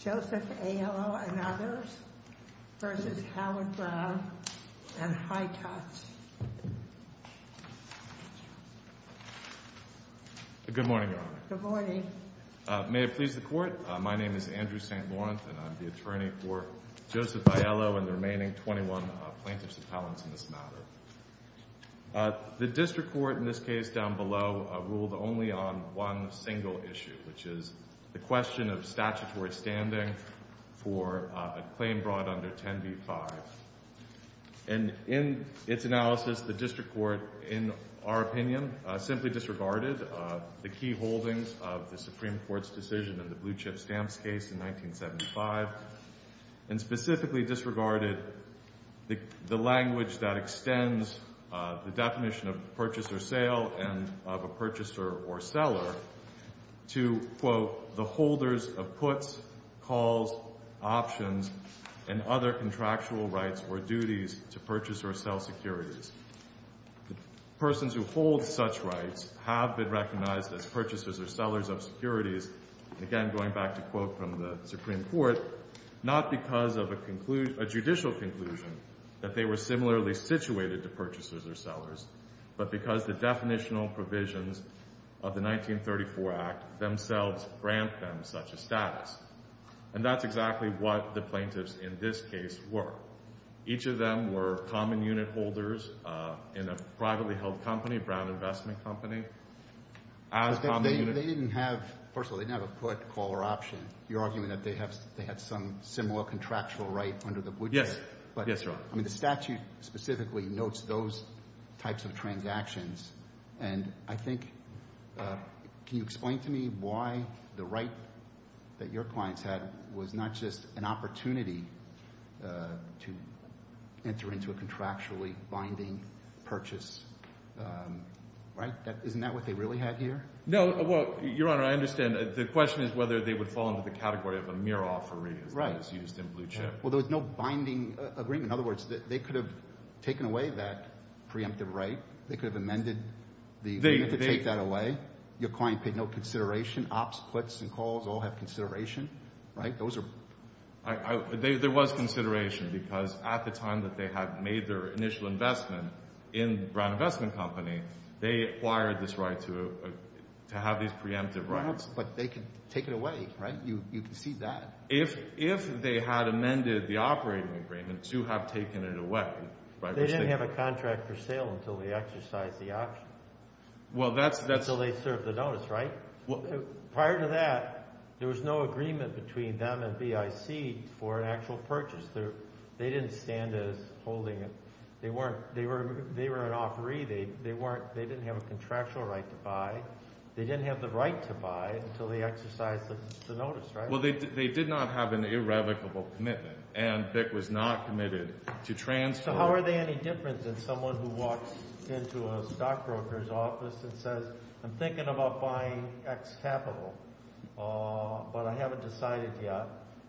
v. Howard Brown v. Heitotz Good morning, Your Honor. Good morning. May it please the Court, my name is Andrew St. Lawrence and I'm the attorney for Joseph Aiello and the remaining 21 plaintiffs appellants in this matter. The District Court in this case down below ruled only on one single issue, which is the question of statutory standing for a claim brought under 10b-5. And in its analysis, the District Court, in our opinion, simply disregarded the key holdings of the Supreme Court's decision in the Blue Chip Stamps case in 1975 and specifically disregarded the language that extends the definition of purchaser sale and of a purchaser or seller to, quote, the holders of puts, calls, options, and other contractual rights or duties to purchase or sell securities. Persons who hold such rights have been recognized as purchasers or sellers of securities, again, going back to quote from the Supreme Court, not because of a judicial conclusion that they were similarly situated to purchasers or sellers, but because the definitional provisions of the 1934 Act themselves grant them such a status. And that's exactly what the plaintiffs in this case were. Each of them were common unit holders in a privately held company, a Brown Investment Company. As common unit... But they didn't have... First of all, they didn't have a put, call, or option. You're arguing that they had some similar contractual right under the Blue Chip. Yes. Yes, Your Honor. I mean, the statute specifically notes those types of transactions. And I think, can you explain to me why the right that your clients had was not just an opportunity to enter into a contractually binding purchase, right? Isn't that what they really had here? No. Well, Your Honor, I understand. The question is whether they would fall into the category of a mere offeree as that is used in Blue Chip. Right. Well, there was no binding agreement. In other words, they could have taken away that preemptive right. They could have amended the... They... You have to take that away. Your client paid no consideration. Ops, puts, and calls all have consideration, right? Those are... I... There was consideration because at the time that they had made their initial investment in Brown Investment Company, they acquired this right to have these preemptive rights. But they could take it away, right? You can see that. If they had amended the operating agreement to have taken it away, right? They didn't have a contract for sale until they exercised the option. Well, that's... Until they served the notice, right? Prior to that, there was no agreement between them and BIC for an actual purchase. They didn't stand as holding it. They weren't... They were an offeree. They weren't... They didn't have a contractual right to buy. They didn't have the right to buy until they exercised the notice, right? Well, they did not have an irrevocable commitment. And BIC was not committed to transfer... So how are they any different than someone who walks into a stockbroker's office and says, I'm thinking about buying X capital, but I haven't decided yet.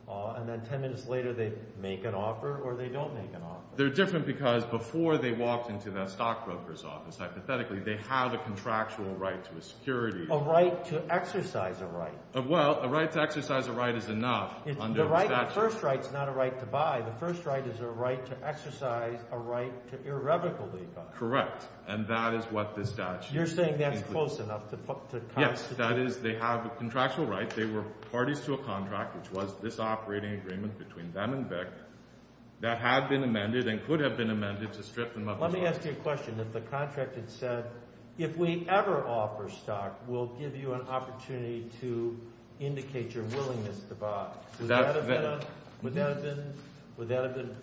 And then 10 minutes later, they make an offer or they don't make an offer. They're different because before they walked into that stockbroker's office, hypothetically, they have a contractual right to a security... A right to exercise a right. Well, a right to exercise a right is enough under the statute. The right... The first right is not a right to buy. The first right is a right to exercise a right to irrevocably buy. Correct. And that is what the statute... You're saying that's close enough to constitute... Yes. That is, they have a contractual right. They were parties to a contract, which was this operating agreement between them and BIC that had been amended and could have been amended to strip them of their rights. Let me ask you a question. If the contract had said, if we ever offer stock, we'll give you an opportunity to indicate your willingness to buy, would that have been an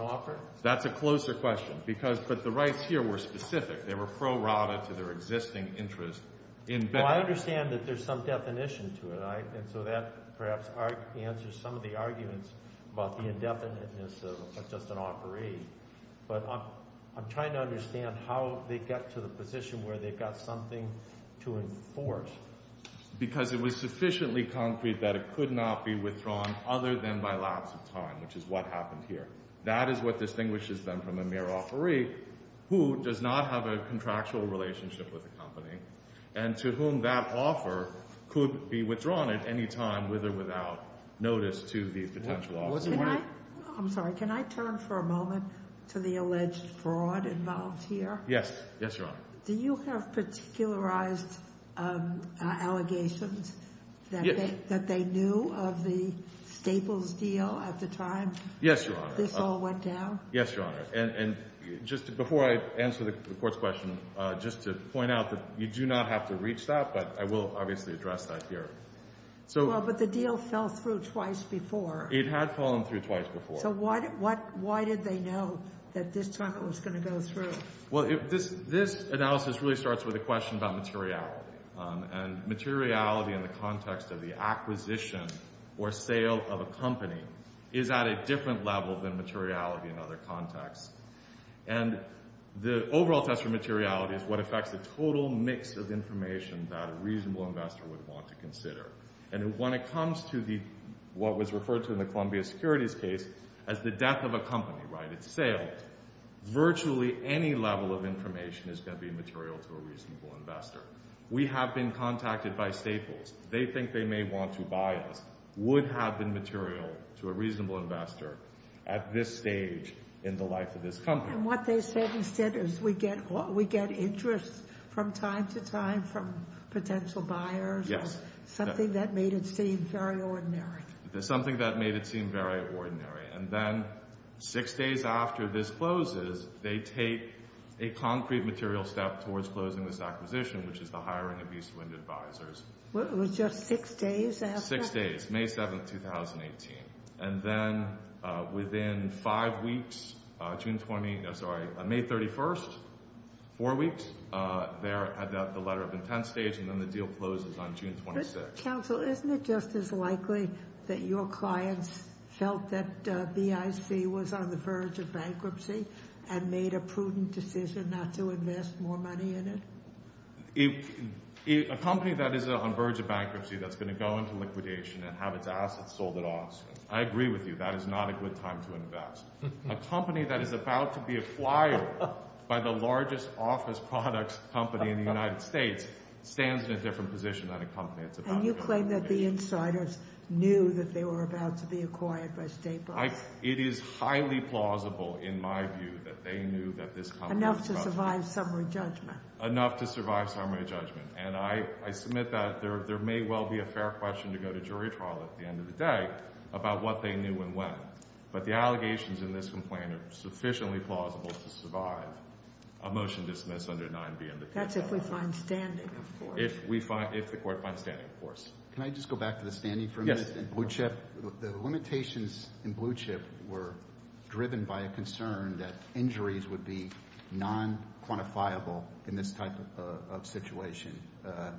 offer? That's a closer question, but the rights here were specific. They were prorated to their existing interest in BIC. Well, I understand that there's some definition to it, and so that perhaps answers some of the arguments about the indefiniteness of just an offeree. But I'm trying to understand how they get to the position where they've got something to enforce. Because it was sufficiently concrete that it could not be withdrawn other than by lapse of time, which is what happened here. That is what distinguishes them from a mere offeree who does not have a contractual relationship with a company, and to whom that offer could be withdrawn at any time, with or without notice to the potential offeree. I'm sorry. Can I turn for a moment to the alleged fraud involved here? Yes. Yes, Your Honor. Do you have particularized allegations that they knew of the Staples deal at the time this all went down? Yes, Your Honor. And just before I answer the court's question, just to point out that you do not have to reach that, but I will obviously address that here. But the deal fell through twice before. It had fallen through twice before. So why did they know that this time it was going to go through? Well, this analysis really starts with a question about materiality. And materiality in the context of the acquisition or sale of a company is at a different level than materiality in other contexts. And the overall test for materiality is what affects the total mix of information that a reasonable investor would want to consider. And when it comes to what was referred to in the Columbia Securities case as the death of a company, right, its sale, virtually any level of information is going to be material to a reasonable investor. We have been contacted by Staples. They think they may want to buy us, would have been material to a reasonable investor at this stage in the life of this company. And what they said instead is we get interest from time to time from potential buyers or something that made it seem very ordinary. Something that made it seem very ordinary. And then six days after this closes, they take a concrete material step towards closing this acquisition, which is the hiring of East Wind Advisors. What, it was just six days after? Six days, May 7th, 2018. And then within five weeks, June 20, sorry, May 31st, four weeks, they're at the letter of intent stage, and then the deal closes on June 26th. But counsel, isn't it just as likely that your clients felt that BIC was on the verge of bankruptcy and made a prudent decision not to invest more money in it? A company that is on verge of bankruptcy that's going to go into liquidation and have its assets sold at auction, I agree with you, that is not a good time to invest. A company that is about to be acquired by the largest office products company in the United States stands in a different position than a company that's about to go into liquidation. And you claim that the insiders knew that they were about to be acquired by State Bucs? It is highly plausible, in my view, that they knew that this company was about to go into liquidation. Enough to survive summary judgment. Enough to survive summary judgment, and I submit that there may well be a fair question to go to jury trial at the end of the day about what they knew and when. But the allegations in this complaint are sufficiently plausible to survive a motion dismissed under 9B in the future. That's if we find standing, of course. If we find, if the court finds standing, of course. Can I just go back to the standing for a minute? Yes. In Blue Chip, the limitations in Blue Chip were driven by a concern that injuries would be non-quantifiable in this type of situation.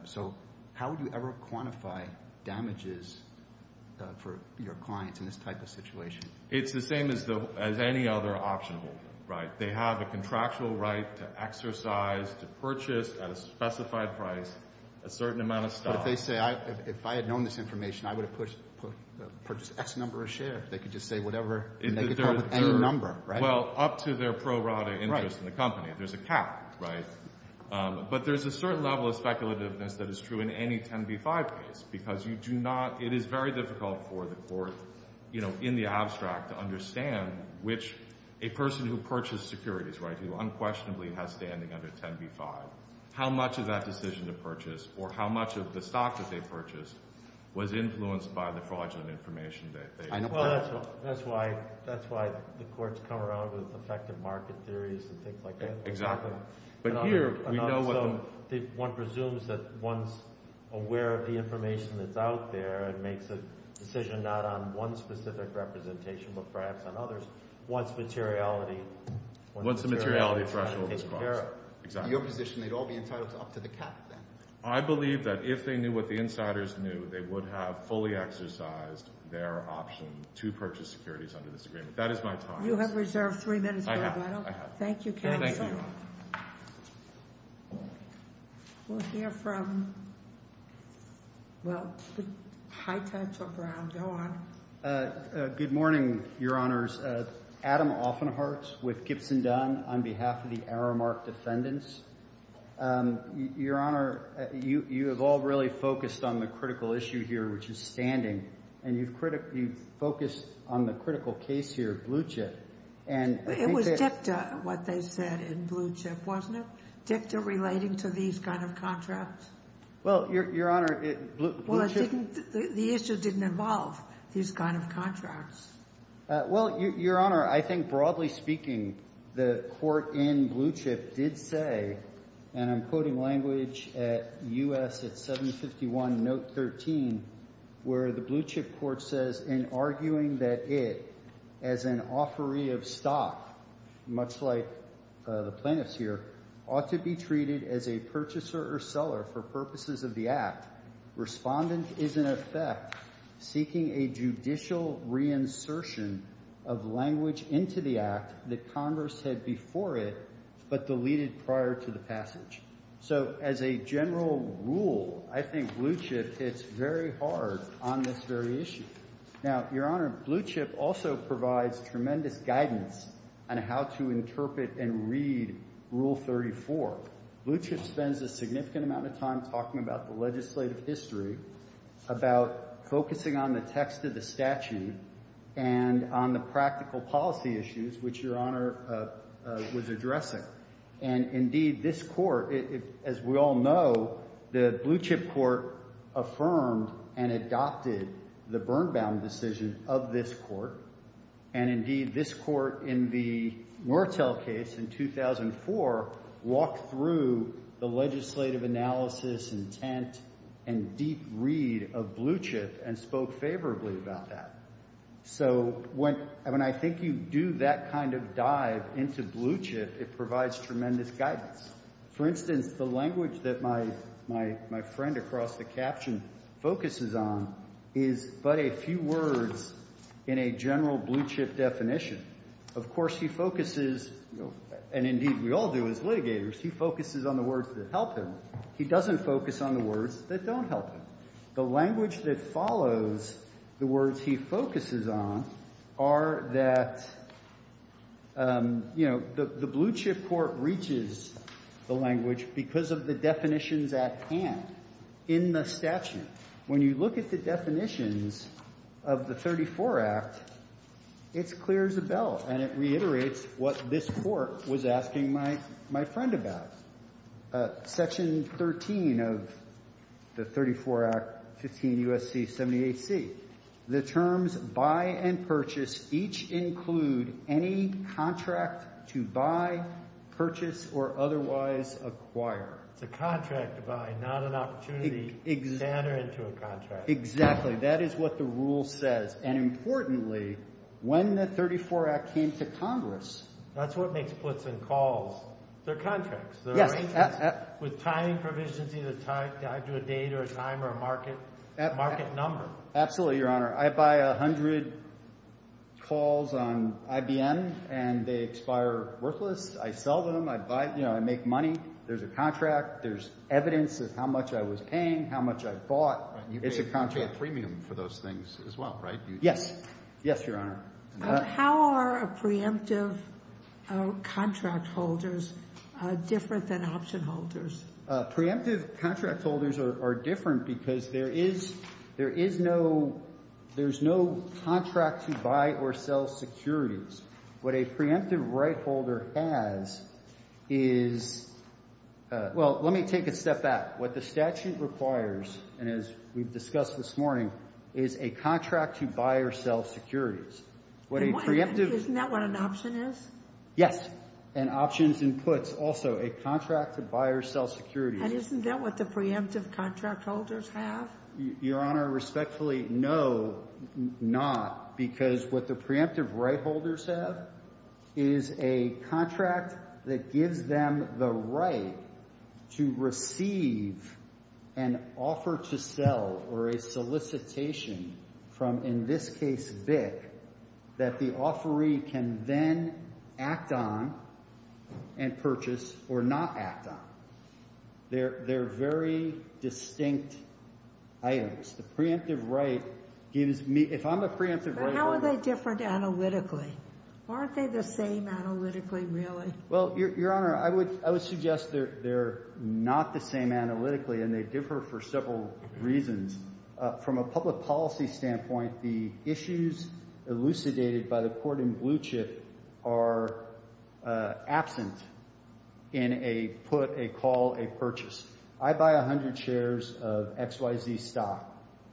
So how would you ever quantify damages for your clients in this type of situation? It's the same as any other option, right? They have a contractual right to exercise, to purchase at a specified price, a certain amount of stock. But if they say, if I had known this information, I would have purchased X number of share. They could just say whatever, and they get caught with any number, right? Well, up to their pro rata interest in the company. Right. There's a cap, right? But there's a certain level of speculativeness that is true in any 10b-5 case, because you do not, it is very difficult for the court, you know, in the abstract to understand which a person who purchased securities, right, who unquestionably has standing under 10b-5, how much of that decision to purchase, or how much of the stock that they purchased was influenced by the fraudulent information that they had. Well, that's why, that's why the courts come around with effective market theories and things like that. Exactly. But here, we know what the... One presumes that one's aware of the information that's out there and makes a decision not on one specific representation, but perhaps on others, once materiality... Once the materiality threshold is crossed. ...is taken care of. Exactly. In your position, they'd all be entitled to up to the cap, then? I believe that if they knew what the insiders knew, they would have fully exercised their option to purchase securities under this agreement. That is my thought. You have reserved three minutes, Greg. I have. I have. Thank you, counsel. Sure. Thank you, Your Honor. We'll hear from, well, high touch or ground, go on. Good morning, Your Honors. Adam Offenharts with Gibson Dunn on behalf of the Aramark Defendants. Your Honor, you have all really focused on the critical issue here, which is standing, and you've focused on the critical case here, Blue Chip, and I think that... It was dicta, what they said in Blue Chip, wasn't it? Dicta relating to these kind of contracts? Well, Your Honor, Blue Chip... Well, it didn't... The issue didn't involve these kind of contracts. Well, Your Honor, I think, broadly speaking, the court in Blue Chip did say, and I'm quoting language at U.S. at 751 Note 13, where the Blue Chip court says, in arguing that it, as an offeree of stock, much like the plaintiffs here, ought to be treated as a purchaser or seller for purposes of the act, respondent is, in effect, seeking a judicial reinsertion of language into the act that Congress had before it, but deleted prior to the passage. So as a general rule, I think Blue Chip hits very hard on this very issue. Now, Your Honor, Blue Chip also provides tremendous guidance on how to interpret and read Rule 34. Blue Chip spends a significant amount of time talking about the legislative history, about focusing on the text of the statute, and on the practical policy issues, which Your Honor was addressing, and indeed, this court, as we all know, the Blue Chip court affirmed and adopted the Bernbaum decision of this court, and indeed, this court in the Murtell case in 2004 walked through the legislative analysis, intent, and deep read of Blue Chip and spoke favorably about that. So when I think you do that kind of dive into Blue Chip, it provides tremendous guidance. For instance, the language that my friend across the caption focuses on is but a few words in a general Blue Chip definition. Of course, he focuses, and indeed, we all do as litigators, he focuses on the words that help him. He doesn't focus on the words that don't help him. The language that follows the words he focuses on are that, you know, the Blue Chip court reaches the language because of the definitions at hand in the statute. When you look at the definitions of the 34 Act, it clears the bell, and it reiterates what this court was asking my friend about. Section 13 of the 34 Act, 15 U.S.C. 78C, the terms buy and purchase each include any contract to buy, purchase, or otherwise acquire. It's a contract to buy, not an opportunity to enter into a contract. Exactly. That is what the rule says. And importantly, when the 34 Act came to Congress. That's what makes splits and calls. They're contracts. They're arrangements. With timing provisions, either tied to a date or a time or a market number. Absolutely, Your Honor. I buy 100 calls on IBM, and they expire worthless. I sell them. I buy, you know, I make money. There's a contract. There's evidence of how much I was paying, how much I bought. It's a contract. You pay a premium for those things as well, right? Yes. Yes, Your Honor. How are preemptive contract holders different than option holders? Preemptive contract holders are different because there is no contract to buy or sell securities. What a preemptive right holder has is, well, let me take a step back. What the statute requires, and as we've discussed this morning, is a contract to buy or sell securities. Isn't that what an option is? Yes. And options and puts also, a contract to buy or sell securities. And isn't that what the preemptive contract holders have? Your Honor, respectfully, no, not, because what the preemptive right holders have is a contract that gives them the right to receive an offer to sell or a solicitation from, in this case, BIC, that the offeree can then act on and purchase or not act on. They're very distinct items. The preemptive right gives me, if I'm a preemptive right holder. But how are they different analytically? Aren't they the same analytically, really? Well, Your Honor, I would suggest they're not the same analytically, and they differ for several reasons. From a public policy standpoint, the issues elucidated by the court in Blue Chip are absent in a put, a call, a purchase. I buy 100 shares of XYZ stock,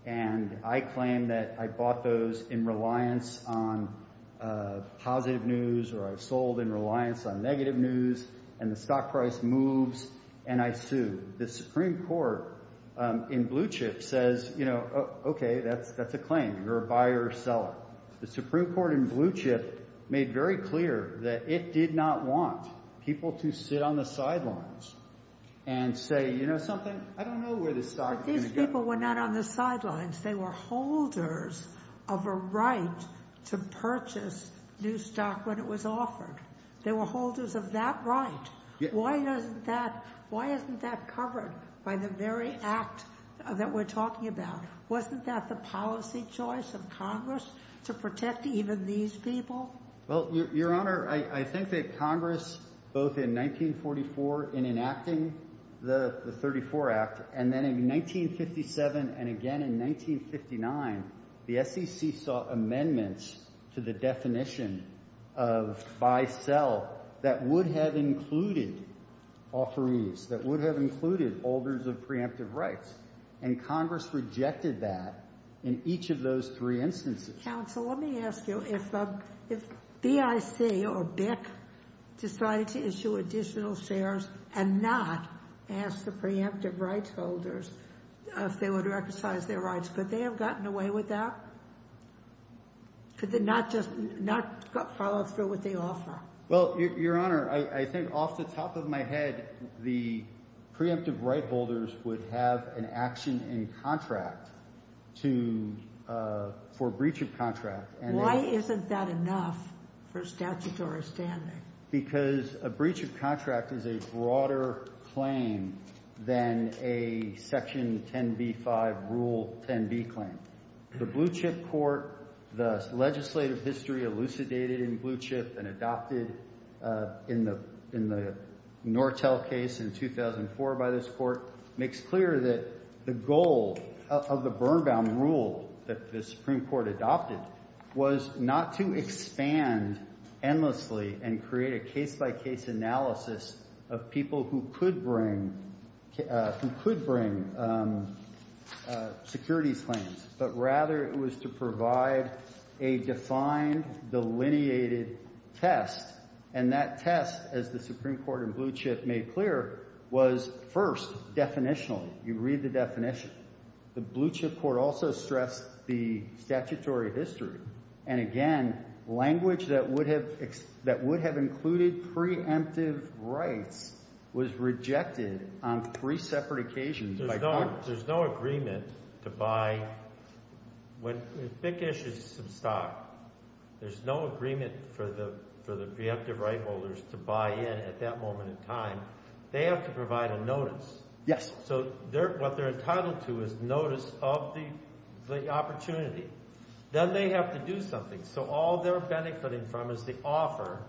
and I claim that I bought those in reliance on positive news, or I sold in reliance on negative news, and the stock price moves, and I sue. The Supreme Court in Blue Chip says, you know, okay, that's a claim. You're a buyer or seller. The Supreme Court in Blue Chip made very clear that it did not want people to sit on the sidelines and say, you know something, I don't know where this stock is going to go. But these people were not on the sidelines. They were holders of a right to purchase new stock when it was offered. They were holders of that right. Why isn't that covered by the very act that we're talking about? Wasn't that the policy choice of Congress to protect even these people? Well, Your Honor, I think that Congress, both in 1944 in enacting the 34 Act, and then in 1957 and again in 1959, the SEC sought amendments to the definition of buy-sell that would have included authorities, that would have included holders of preemptive rights. And Congress rejected that in each of those three instances. Counsel, let me ask you, if BIC decided to issue additional shares and not ask the preemptive rights holders if they would recognize their rights, could they have gotten away with that? Could they not just not follow through with the offer? Well, Your Honor, I think off the top of my head, the preemptive right holders would have an action in contract to, for breach of contract. Why isn't that enough for statutory standing? Because a breach of contract is a broader claim than a Section 10b-5 Rule 10b claim. The Blue Chip Court, the legislative history elucidated in Blue Chip and adopted in the Nortel case in 2004 by this court, makes clear that the goal of the burn-bound rule that the Supreme Court adopted was not to expand endlessly and create a case-by-case analysis of people who could bring security claims, but rather it was to provide a defined, delineated test. And that test, as the Supreme Court in Blue Chip made clear, was first, definitional. You read the definition. The Blue Chip Court also stressed the statutory history. And again, language that would have included preemptive rights was rejected on three separate occasions by Congress. Your Honor, there's no agreement to buy, when BIC issues some stock, there's no agreement for the preemptive right holders to buy in at that moment in time. They have to provide a notice. Yes. So what they're entitled to is notice of the opportunity. Then they have to do something. So all they're benefiting from is the offer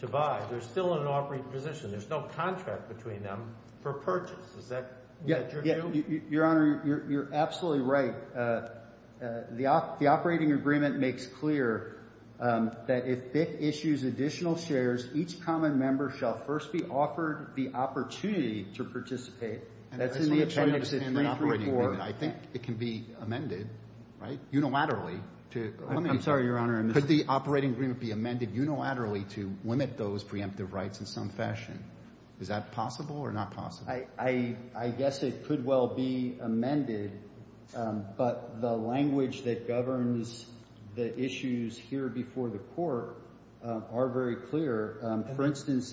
to buy. They're still in an offering position. There's no contract between them for purchase. Your Honor, you're absolutely right. The operating agreement makes clear that if BIC issues additional shares, each common member shall first be offered the opportunity to participate. That's in the appendix of 334. I think it can be amended, right, unilaterally. I'm sorry, Your Honor. Could the operating agreement be amended unilaterally to limit those preemptive rights in some fashion? Is that possible or not possible? I guess it could well be amended, but the language that governs the issues here before the Court are very clear. For instance,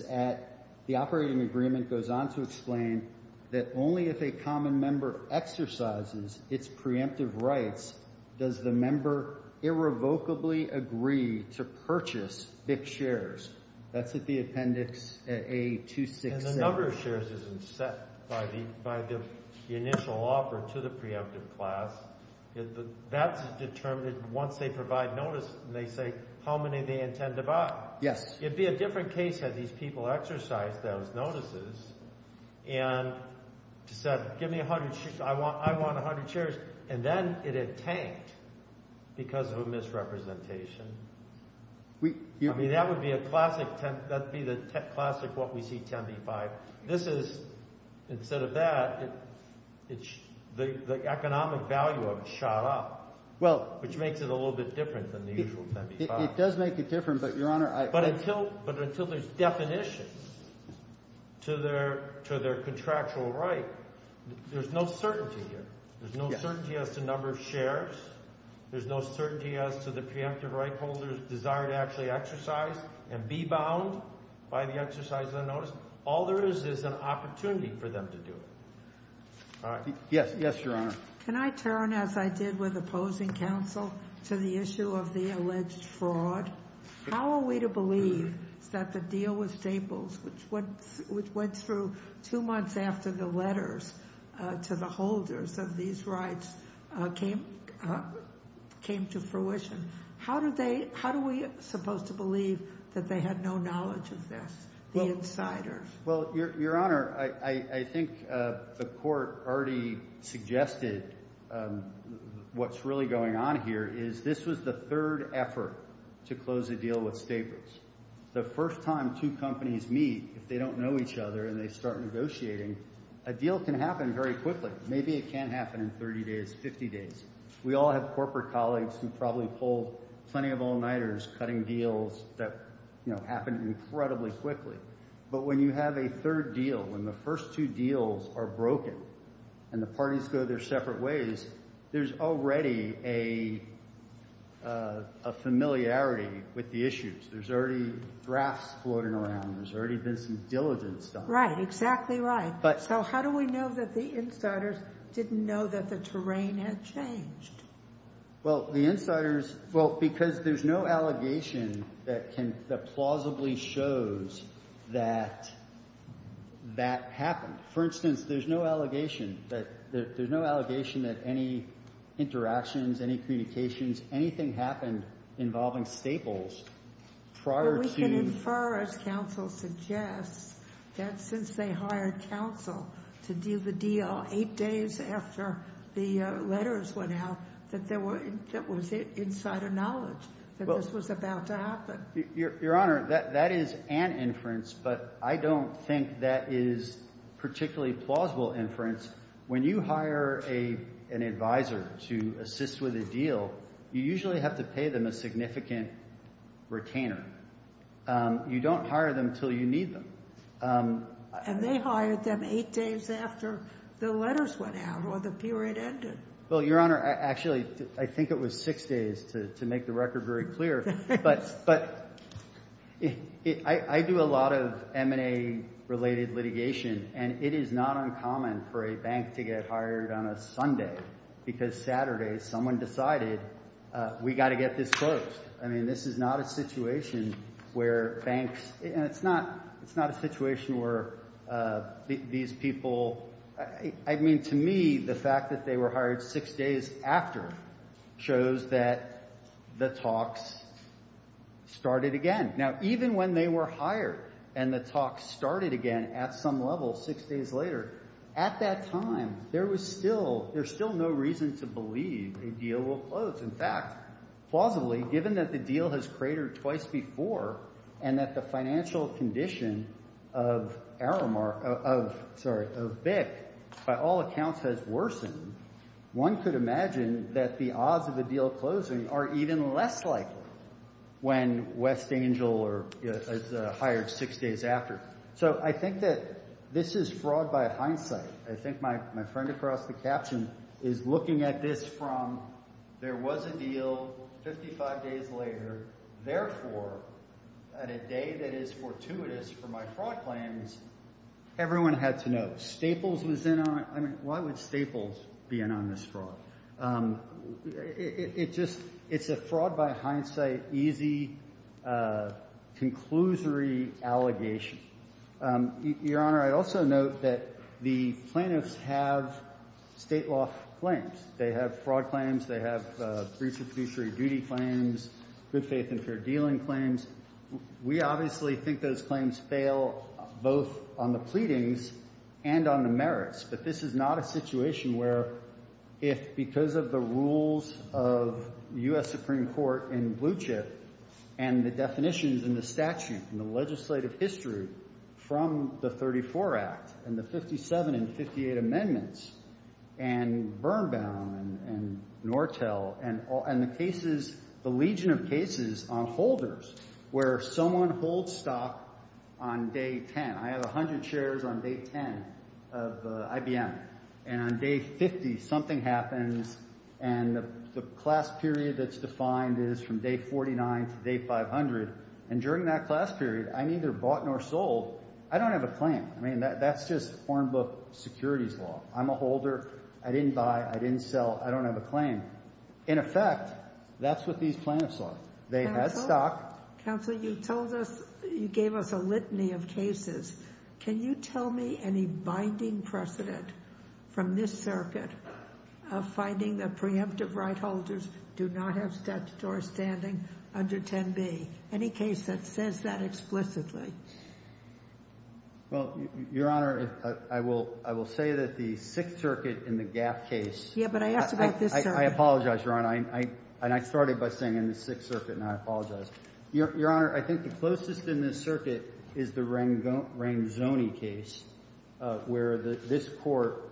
the operating agreement goes on to explain that only if a common member exercises its preemptive rights does the member irrevocably agree to purchase BIC shares. That's at the appendix A267. The number of shares isn't set by the initial offer to the preemptive class. That's determined once they provide notice, and they say how many they intend to buy. Yes. It'd be a different case had these people exercised those notices and said give me 100 shares, I want 100 shares, and then it had tanked because of a misrepresentation. I mean, that would be a classic, that'd be the classic what we see 10B-5. This is, instead of that, the economic value of it shot up, which makes it a little bit different than the usual 10B-5. It does make it different, but, Your Honor, I— But until there's definition to their contractual right, there's no certainty here. There's no certainty as to the preemptive right holder's desire to actually exercise and be bound by the exercise of the notice. All there is is an opportunity for them to do it. Yes. Yes, Your Honor. Can I turn, as I did with opposing counsel, to the issue of the alleged fraud? How are we to believe that the deal with Staples, which went through two months after the letters to the holders of these rights came to fruition, how do we supposed to believe that they had no knowledge of this, the insiders? Well, Your Honor, I think the court already suggested what's really going on here is this was the third effort to close a deal with Staples. The first time two companies meet, if they don't know each other and they start negotiating, a deal can happen very quickly. Maybe it can't happen in 30 days, 50 days. We all have corporate colleagues who probably pulled plenty of all-nighters cutting deals that happened incredibly quickly. But when you have a third deal, when the first two deals are broken and the parties go their separate ways, there's already a familiarity with the issues. There's already drafts floating around. There's already been some diligence done. Right, exactly right. But so how do we know that the insiders didn't know that the terrain had changed? Well, the insiders, well, because there's no allegation that plausibly shows that that happened. For instance, there's no allegation that any interactions, any communications, anything happened involving Staples prior to We can infer, as counsel suggests, that since they hired counsel to deal the deal eight days after the letters went out, that there was insider knowledge that this was about to happen. Your Honor, that is an inference, but I don't think that is particularly plausible inference. When you hire an advisor to assist with a deal, you usually have to pay them a significant retainer. You don't hire them until you need them. And they hired them eight days after the letters went out or the period ended. Well, Your Honor, actually, I think it was six days, to make the record very clear. But I do a lot of M&A-related litigation, and it is not uncommon for a bank to get hired on a Sunday because Saturday, someone decided, we got to get this closed. I mean, this is not a situation where banks, and it's not a situation where these people, I mean, to me, the fact that they were hired six days after shows that the talks started again. Now, even when they were hired and the talks started again at some level six days later, at that time, there was still, there's still no reason to believe a deal will close. In fact, plausibly, given that the deal has cratered twice before and that the financial condition of Aramark, of, sorry, of BIC, by all accounts, has worsened, one could imagine that the odds of a deal closing are even less likely when West Angel is hired six days after. So I think that this is fraud by hindsight. I think my friend across the caption is looking at this from, there was a deal 55 days later. Therefore, at a day that is fortuitous for my fraud claims, everyone had to know. Staples was in on it. I mean, why would Staples be in on this fraud? It just, it's a fraud by hindsight, easy, conclusory allegation. Your Honor, I'd also note that the plaintiffs have state law claims. They have fraud claims. They have breach of fiduciary duty claims, good faith and fair dealing claims. We obviously think those claims fail both on the pleadings and on the merits. But this is not a situation where if, because of the rules of U.S. Supreme Court in Blue Chip, and the definitions in the statute and the legislative history from the 34 Act, and the 57 and 58 amendments, and Birnbaum, and Nortel, and the cases, the legion of cases on holders where someone holds stock on day 10. I have 100 shares on day 10 of IBM. And on day 50, something happens, and the class period that's defined is from day 49 to day 500. And during that class period, I'm neither bought nor sold. I don't have a claim. I mean, that's just foreign book securities law. I'm a holder. I didn't buy, I didn't sell, I don't have a claim. In effect, that's what these plaintiffs are. They have stock. Counsel, you told us, you gave us a litany of cases. Can you tell me any binding precedent from this circuit of finding that preemptive right holders do not have statutory standing under 10B? Any case that says that explicitly. Well, Your Honor, I will say that the Sixth Circuit in the Gap case. Yeah, but I asked about this circuit. I apologize, Your Honor. And I started by saying in the Sixth Circuit, and I apologize. Your Honor, I think the closest in this circuit is the Rangzoni case, where this court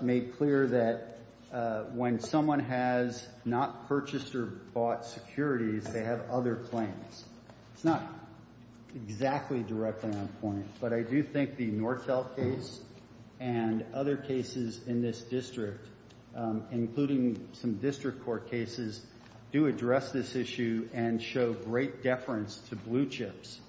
made clear that when someone has not purchased or bought securities, they have other claims. It's not exactly directly on point, but I do think the Nortel case and other cases in this district, including some district court cases, do address this issue and show great deference to blue chips.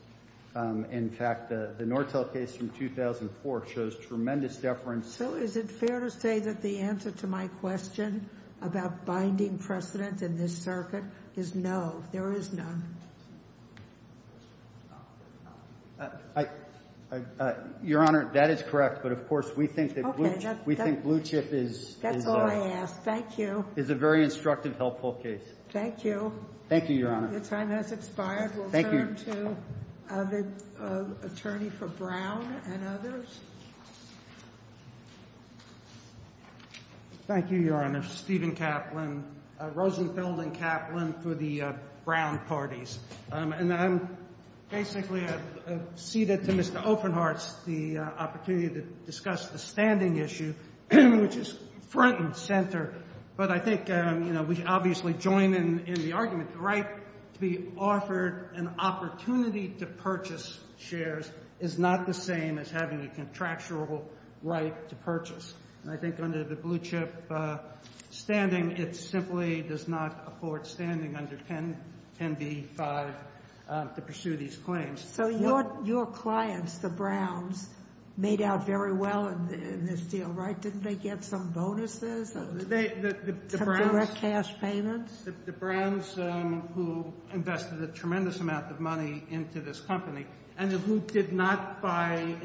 In fact, the Nortel case from 2004 shows tremendous deference. So is it fair to say that the answer to my question about binding precedent in this circuit is no? There is none. Your Honor, that is correct, but of course, we think that blue chip is a very instructive, helpful case. Thank you. Thank you, Your Honor. Your time has expired. We'll turn to the attorney for Brown and others. Thank you, Your Honor. I'm Stephen Kaplan, Rosenthal and Kaplan for the Brown parties. And I'm basically ceded to Mr. Ofenhart the opportunity to discuss the standing issue, which is front and center. But I think we obviously join in the argument, the right to be offered an opportunity to purchase shares is not the same as having a contractual right to purchase. And I think under the blue chip standing, it simply does not afford standing under 10B-5 to pursue these claims. So your clients, the Browns, made out very well in this deal, right? Didn't they get some bonuses? They, the Browns- Some direct cash payments? The Browns, who invested a tremendous amount of money into this company, and who did not buy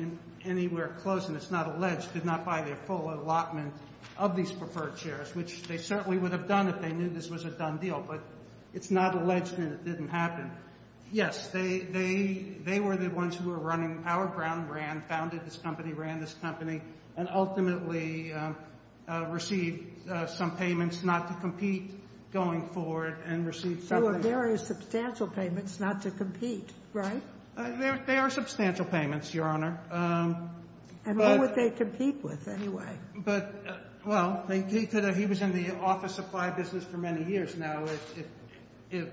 anywhere close, and it's not alleged, did not buy their full allotment of these preferred shares, which they certainly would have done if they knew this was a done deal. But it's not alleged, and it didn't happen. Yes, they were the ones who were running, Howard Brown ran, founded this company, ran this company, and ultimately received some payments not to compete going forward, and received- So there are substantial payments not to compete, right? There are substantial payments, Your Honor. And what would they compete with, anyway? But, well, he was in the office supply business for many years now. It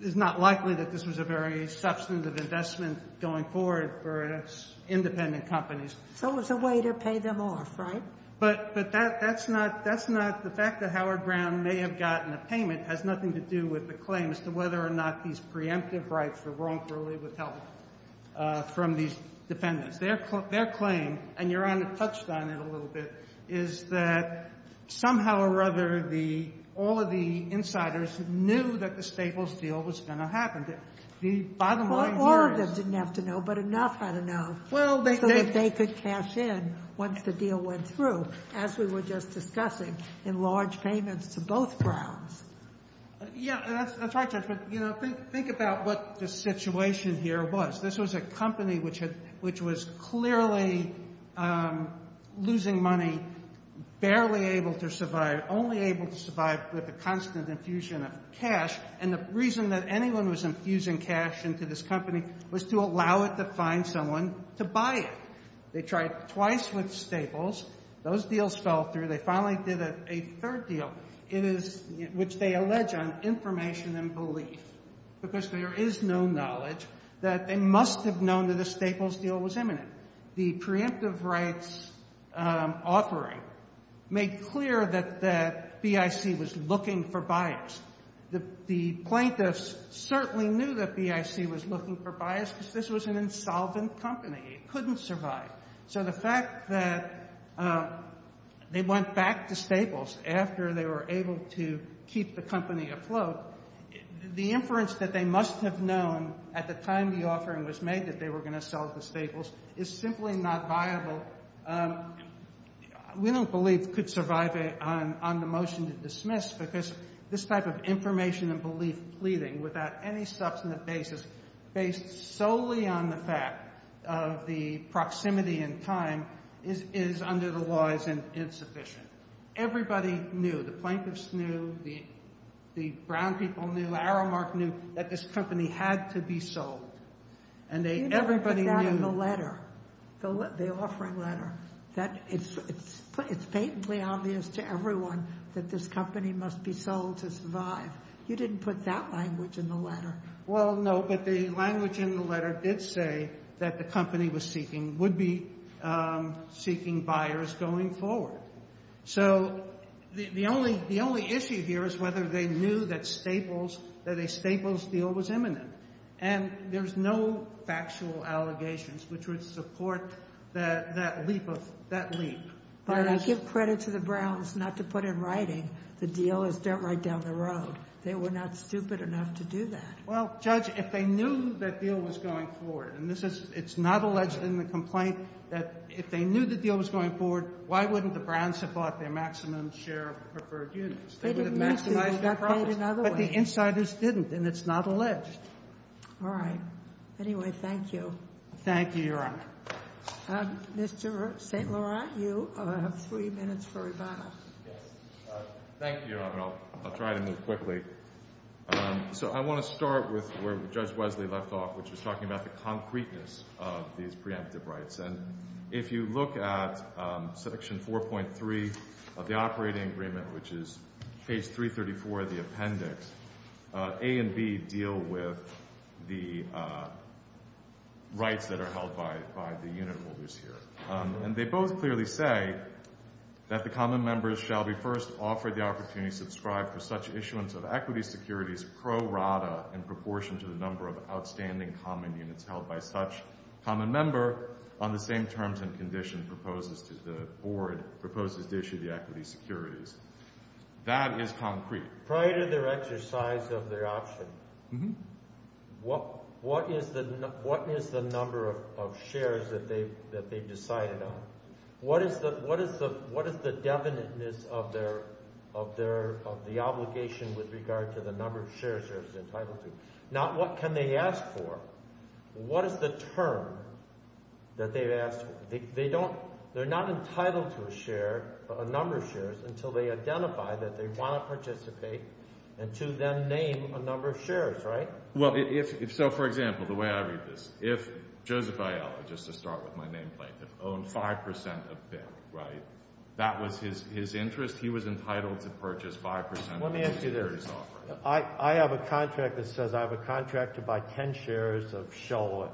is not likely that this was a very substantive investment going forward for independent companies. So it's a way to pay them off, right? But that's not, that's not, the fact that Howard Brown may have gotten a payment has nothing to do with the claim as to whether or not these preemptive rights were wrongfully withheld. From these defendants. Their claim, and Your Honor touched on it a little bit, is that somehow or other, the, all of the insiders knew that the Staples deal was going to happen. The bottom line here is- Well, Oregon didn't have to know, but Enough had to know. Well, they- So that they could cash in once the deal went through, as we were just discussing, in large payments to both Browns. Yeah, that's right, Judge, but, you know, think about what the situation here was. This was a company which had, which was clearly losing money, barely able to survive, only able to survive with the constant infusion of cash. And the reason that anyone was infusing cash into this company was to allow it to find someone to buy it. They tried twice with Staples. Those deals fell through. They finally did a third deal. It is, which they allege on information and belief, because there is no knowledge that they must have known that a Staples deal was imminent. The preemptive rights offering made clear that BIC was looking for buyers. The plaintiffs certainly knew that BIC was looking for buyers, because this was an insolvent company. It couldn't survive. So the fact that they went back to Staples after they were able to keep the company afloat, the inference that they must have known at the time the offering was made that they were going to sell to Staples is simply not viable. We don't believe could survive on the motion to dismiss, because this type of information and belief pleading without any substantive basis, based solely on the fact of the proximity and time, is under the law is insufficient. Everybody knew. The plaintiffs knew. The Brown people knew. Aramark knew that this company had to be sold. And everybody knew. You never put that in the letter, the offering letter. That it's patently obvious to everyone that this company must be sold to survive. You didn't put that language in the letter. Well, no, but the language in the letter did say that the company would be seeking buyers going forward. So the only issue here is whether they knew that a Staples deal was imminent. And there's no factual allegations which would support that leap. But I give credit to the Browns not to put in writing the deal is dumped right down the road. They were not stupid enough to do that. Well, Judge, if they knew that deal was going forward, and it's not alleged in the complaint that if they knew the deal was going forward, why wouldn't the Browns have bought their maximum share of preferred units? They would have maximized their profits. But the insiders didn't, and it's not alleged. All right. Anyway, thank you. Thank you, Your Honor. Mr. St. Laurent, you have three minutes for rebuttal. Thank you, Your Honor. I'll try to move quickly. So I want to start with where Judge Wesley left off, which is talking about the concreteness of these preemptive rights. And if you look at section 4.3 of the operating agreement, which is page 334 of the appendix, A and B deal with the rights that are held by the unit holders here. And they both clearly say that the common members shall be first offered the opportunity to be subscribed for such issuance of equity securities pro rata in proportion to the number of outstanding common units held by such common member on the same terms and condition proposed to the board, proposed to issue the equity securities. That is concrete. Prior to their exercise of their option, what is the number of shares that they've decided on? What is the definiteness of the obligation with regard to the number of shares they're entitled to? Now, what can they ask for? What is the term that they've asked for? They're not entitled to a share, a number of shares, until they identify that they want to participate and to then name a number of shares, right? Well, if so, for example, the way I read this. If Joseph Aiello, just to start with my nameplate, had owned 5% of BIP, right, that was his interest. He was entitled to purchase 5% of the securities offered. Let me ask you this. I have a contract that says I have a contract to buy 10 shares of Sholowit.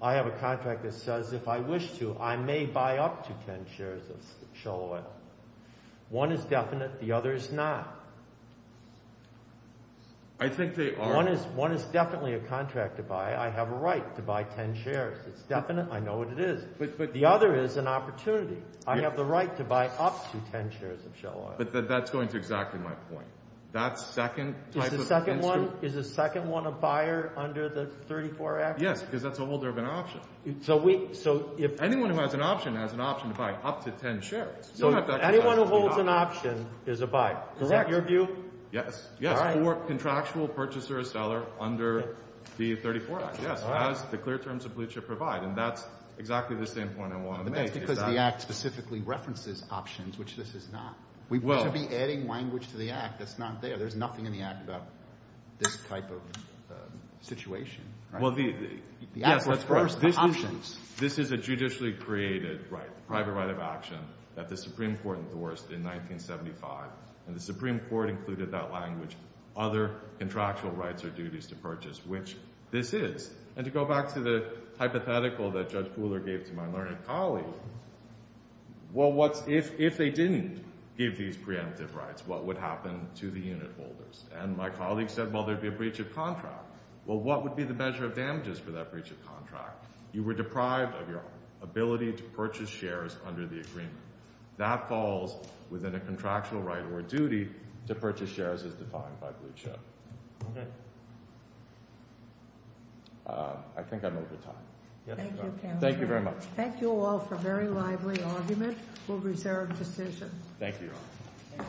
I have a contract that says if I wish to, I may buy up to 10 shares of Sholowit. One is definite, the other is not. I think they are. One is definitely a contract to buy. I have a right to buy 10 shares. It's definite. I know what it is. The other is an opportunity. I have the right to buy up to 10 shares of Sholowit. But that's going to exactly my point. That's second type of instrument. Is the second one a buyer under the 34 Act? Yes, because that's a holder of an option. Anyone who has an option has an option to buy up to 10 shares. Anyone who holds an option is a buyer. Is that your view? Yes. Contractual purchaser or seller under the 34 Act. Yes, as the clear terms of blue chip provide. And that's exactly the same point I want to make. That's because the Act specifically references options, which this is not. We should be adding language to the Act that's not there. There's nothing in the Act about this type of situation. This is a judicially created private right of action that the Supreme Court endorsed in 1975. And the Supreme Court included that language, other contractual rights or duties to purchase, which this is. And to go back to the hypothetical that Judge Pooler gave to my learned colleague, well, if they didn't give these preemptive rights, what would happen to the unit holders? And my colleague said, well, there'd be a breach of contract. Well, what would be the measure of damages for that breach of contract? You were deprived of your ability to purchase shares under the agreement. That falls within a contractual right or duty to purchase shares as defined by blue chip. I think I'm over time. Thank you very much. Thank you all for a very lively argument. We'll reserve decisions. Thank you.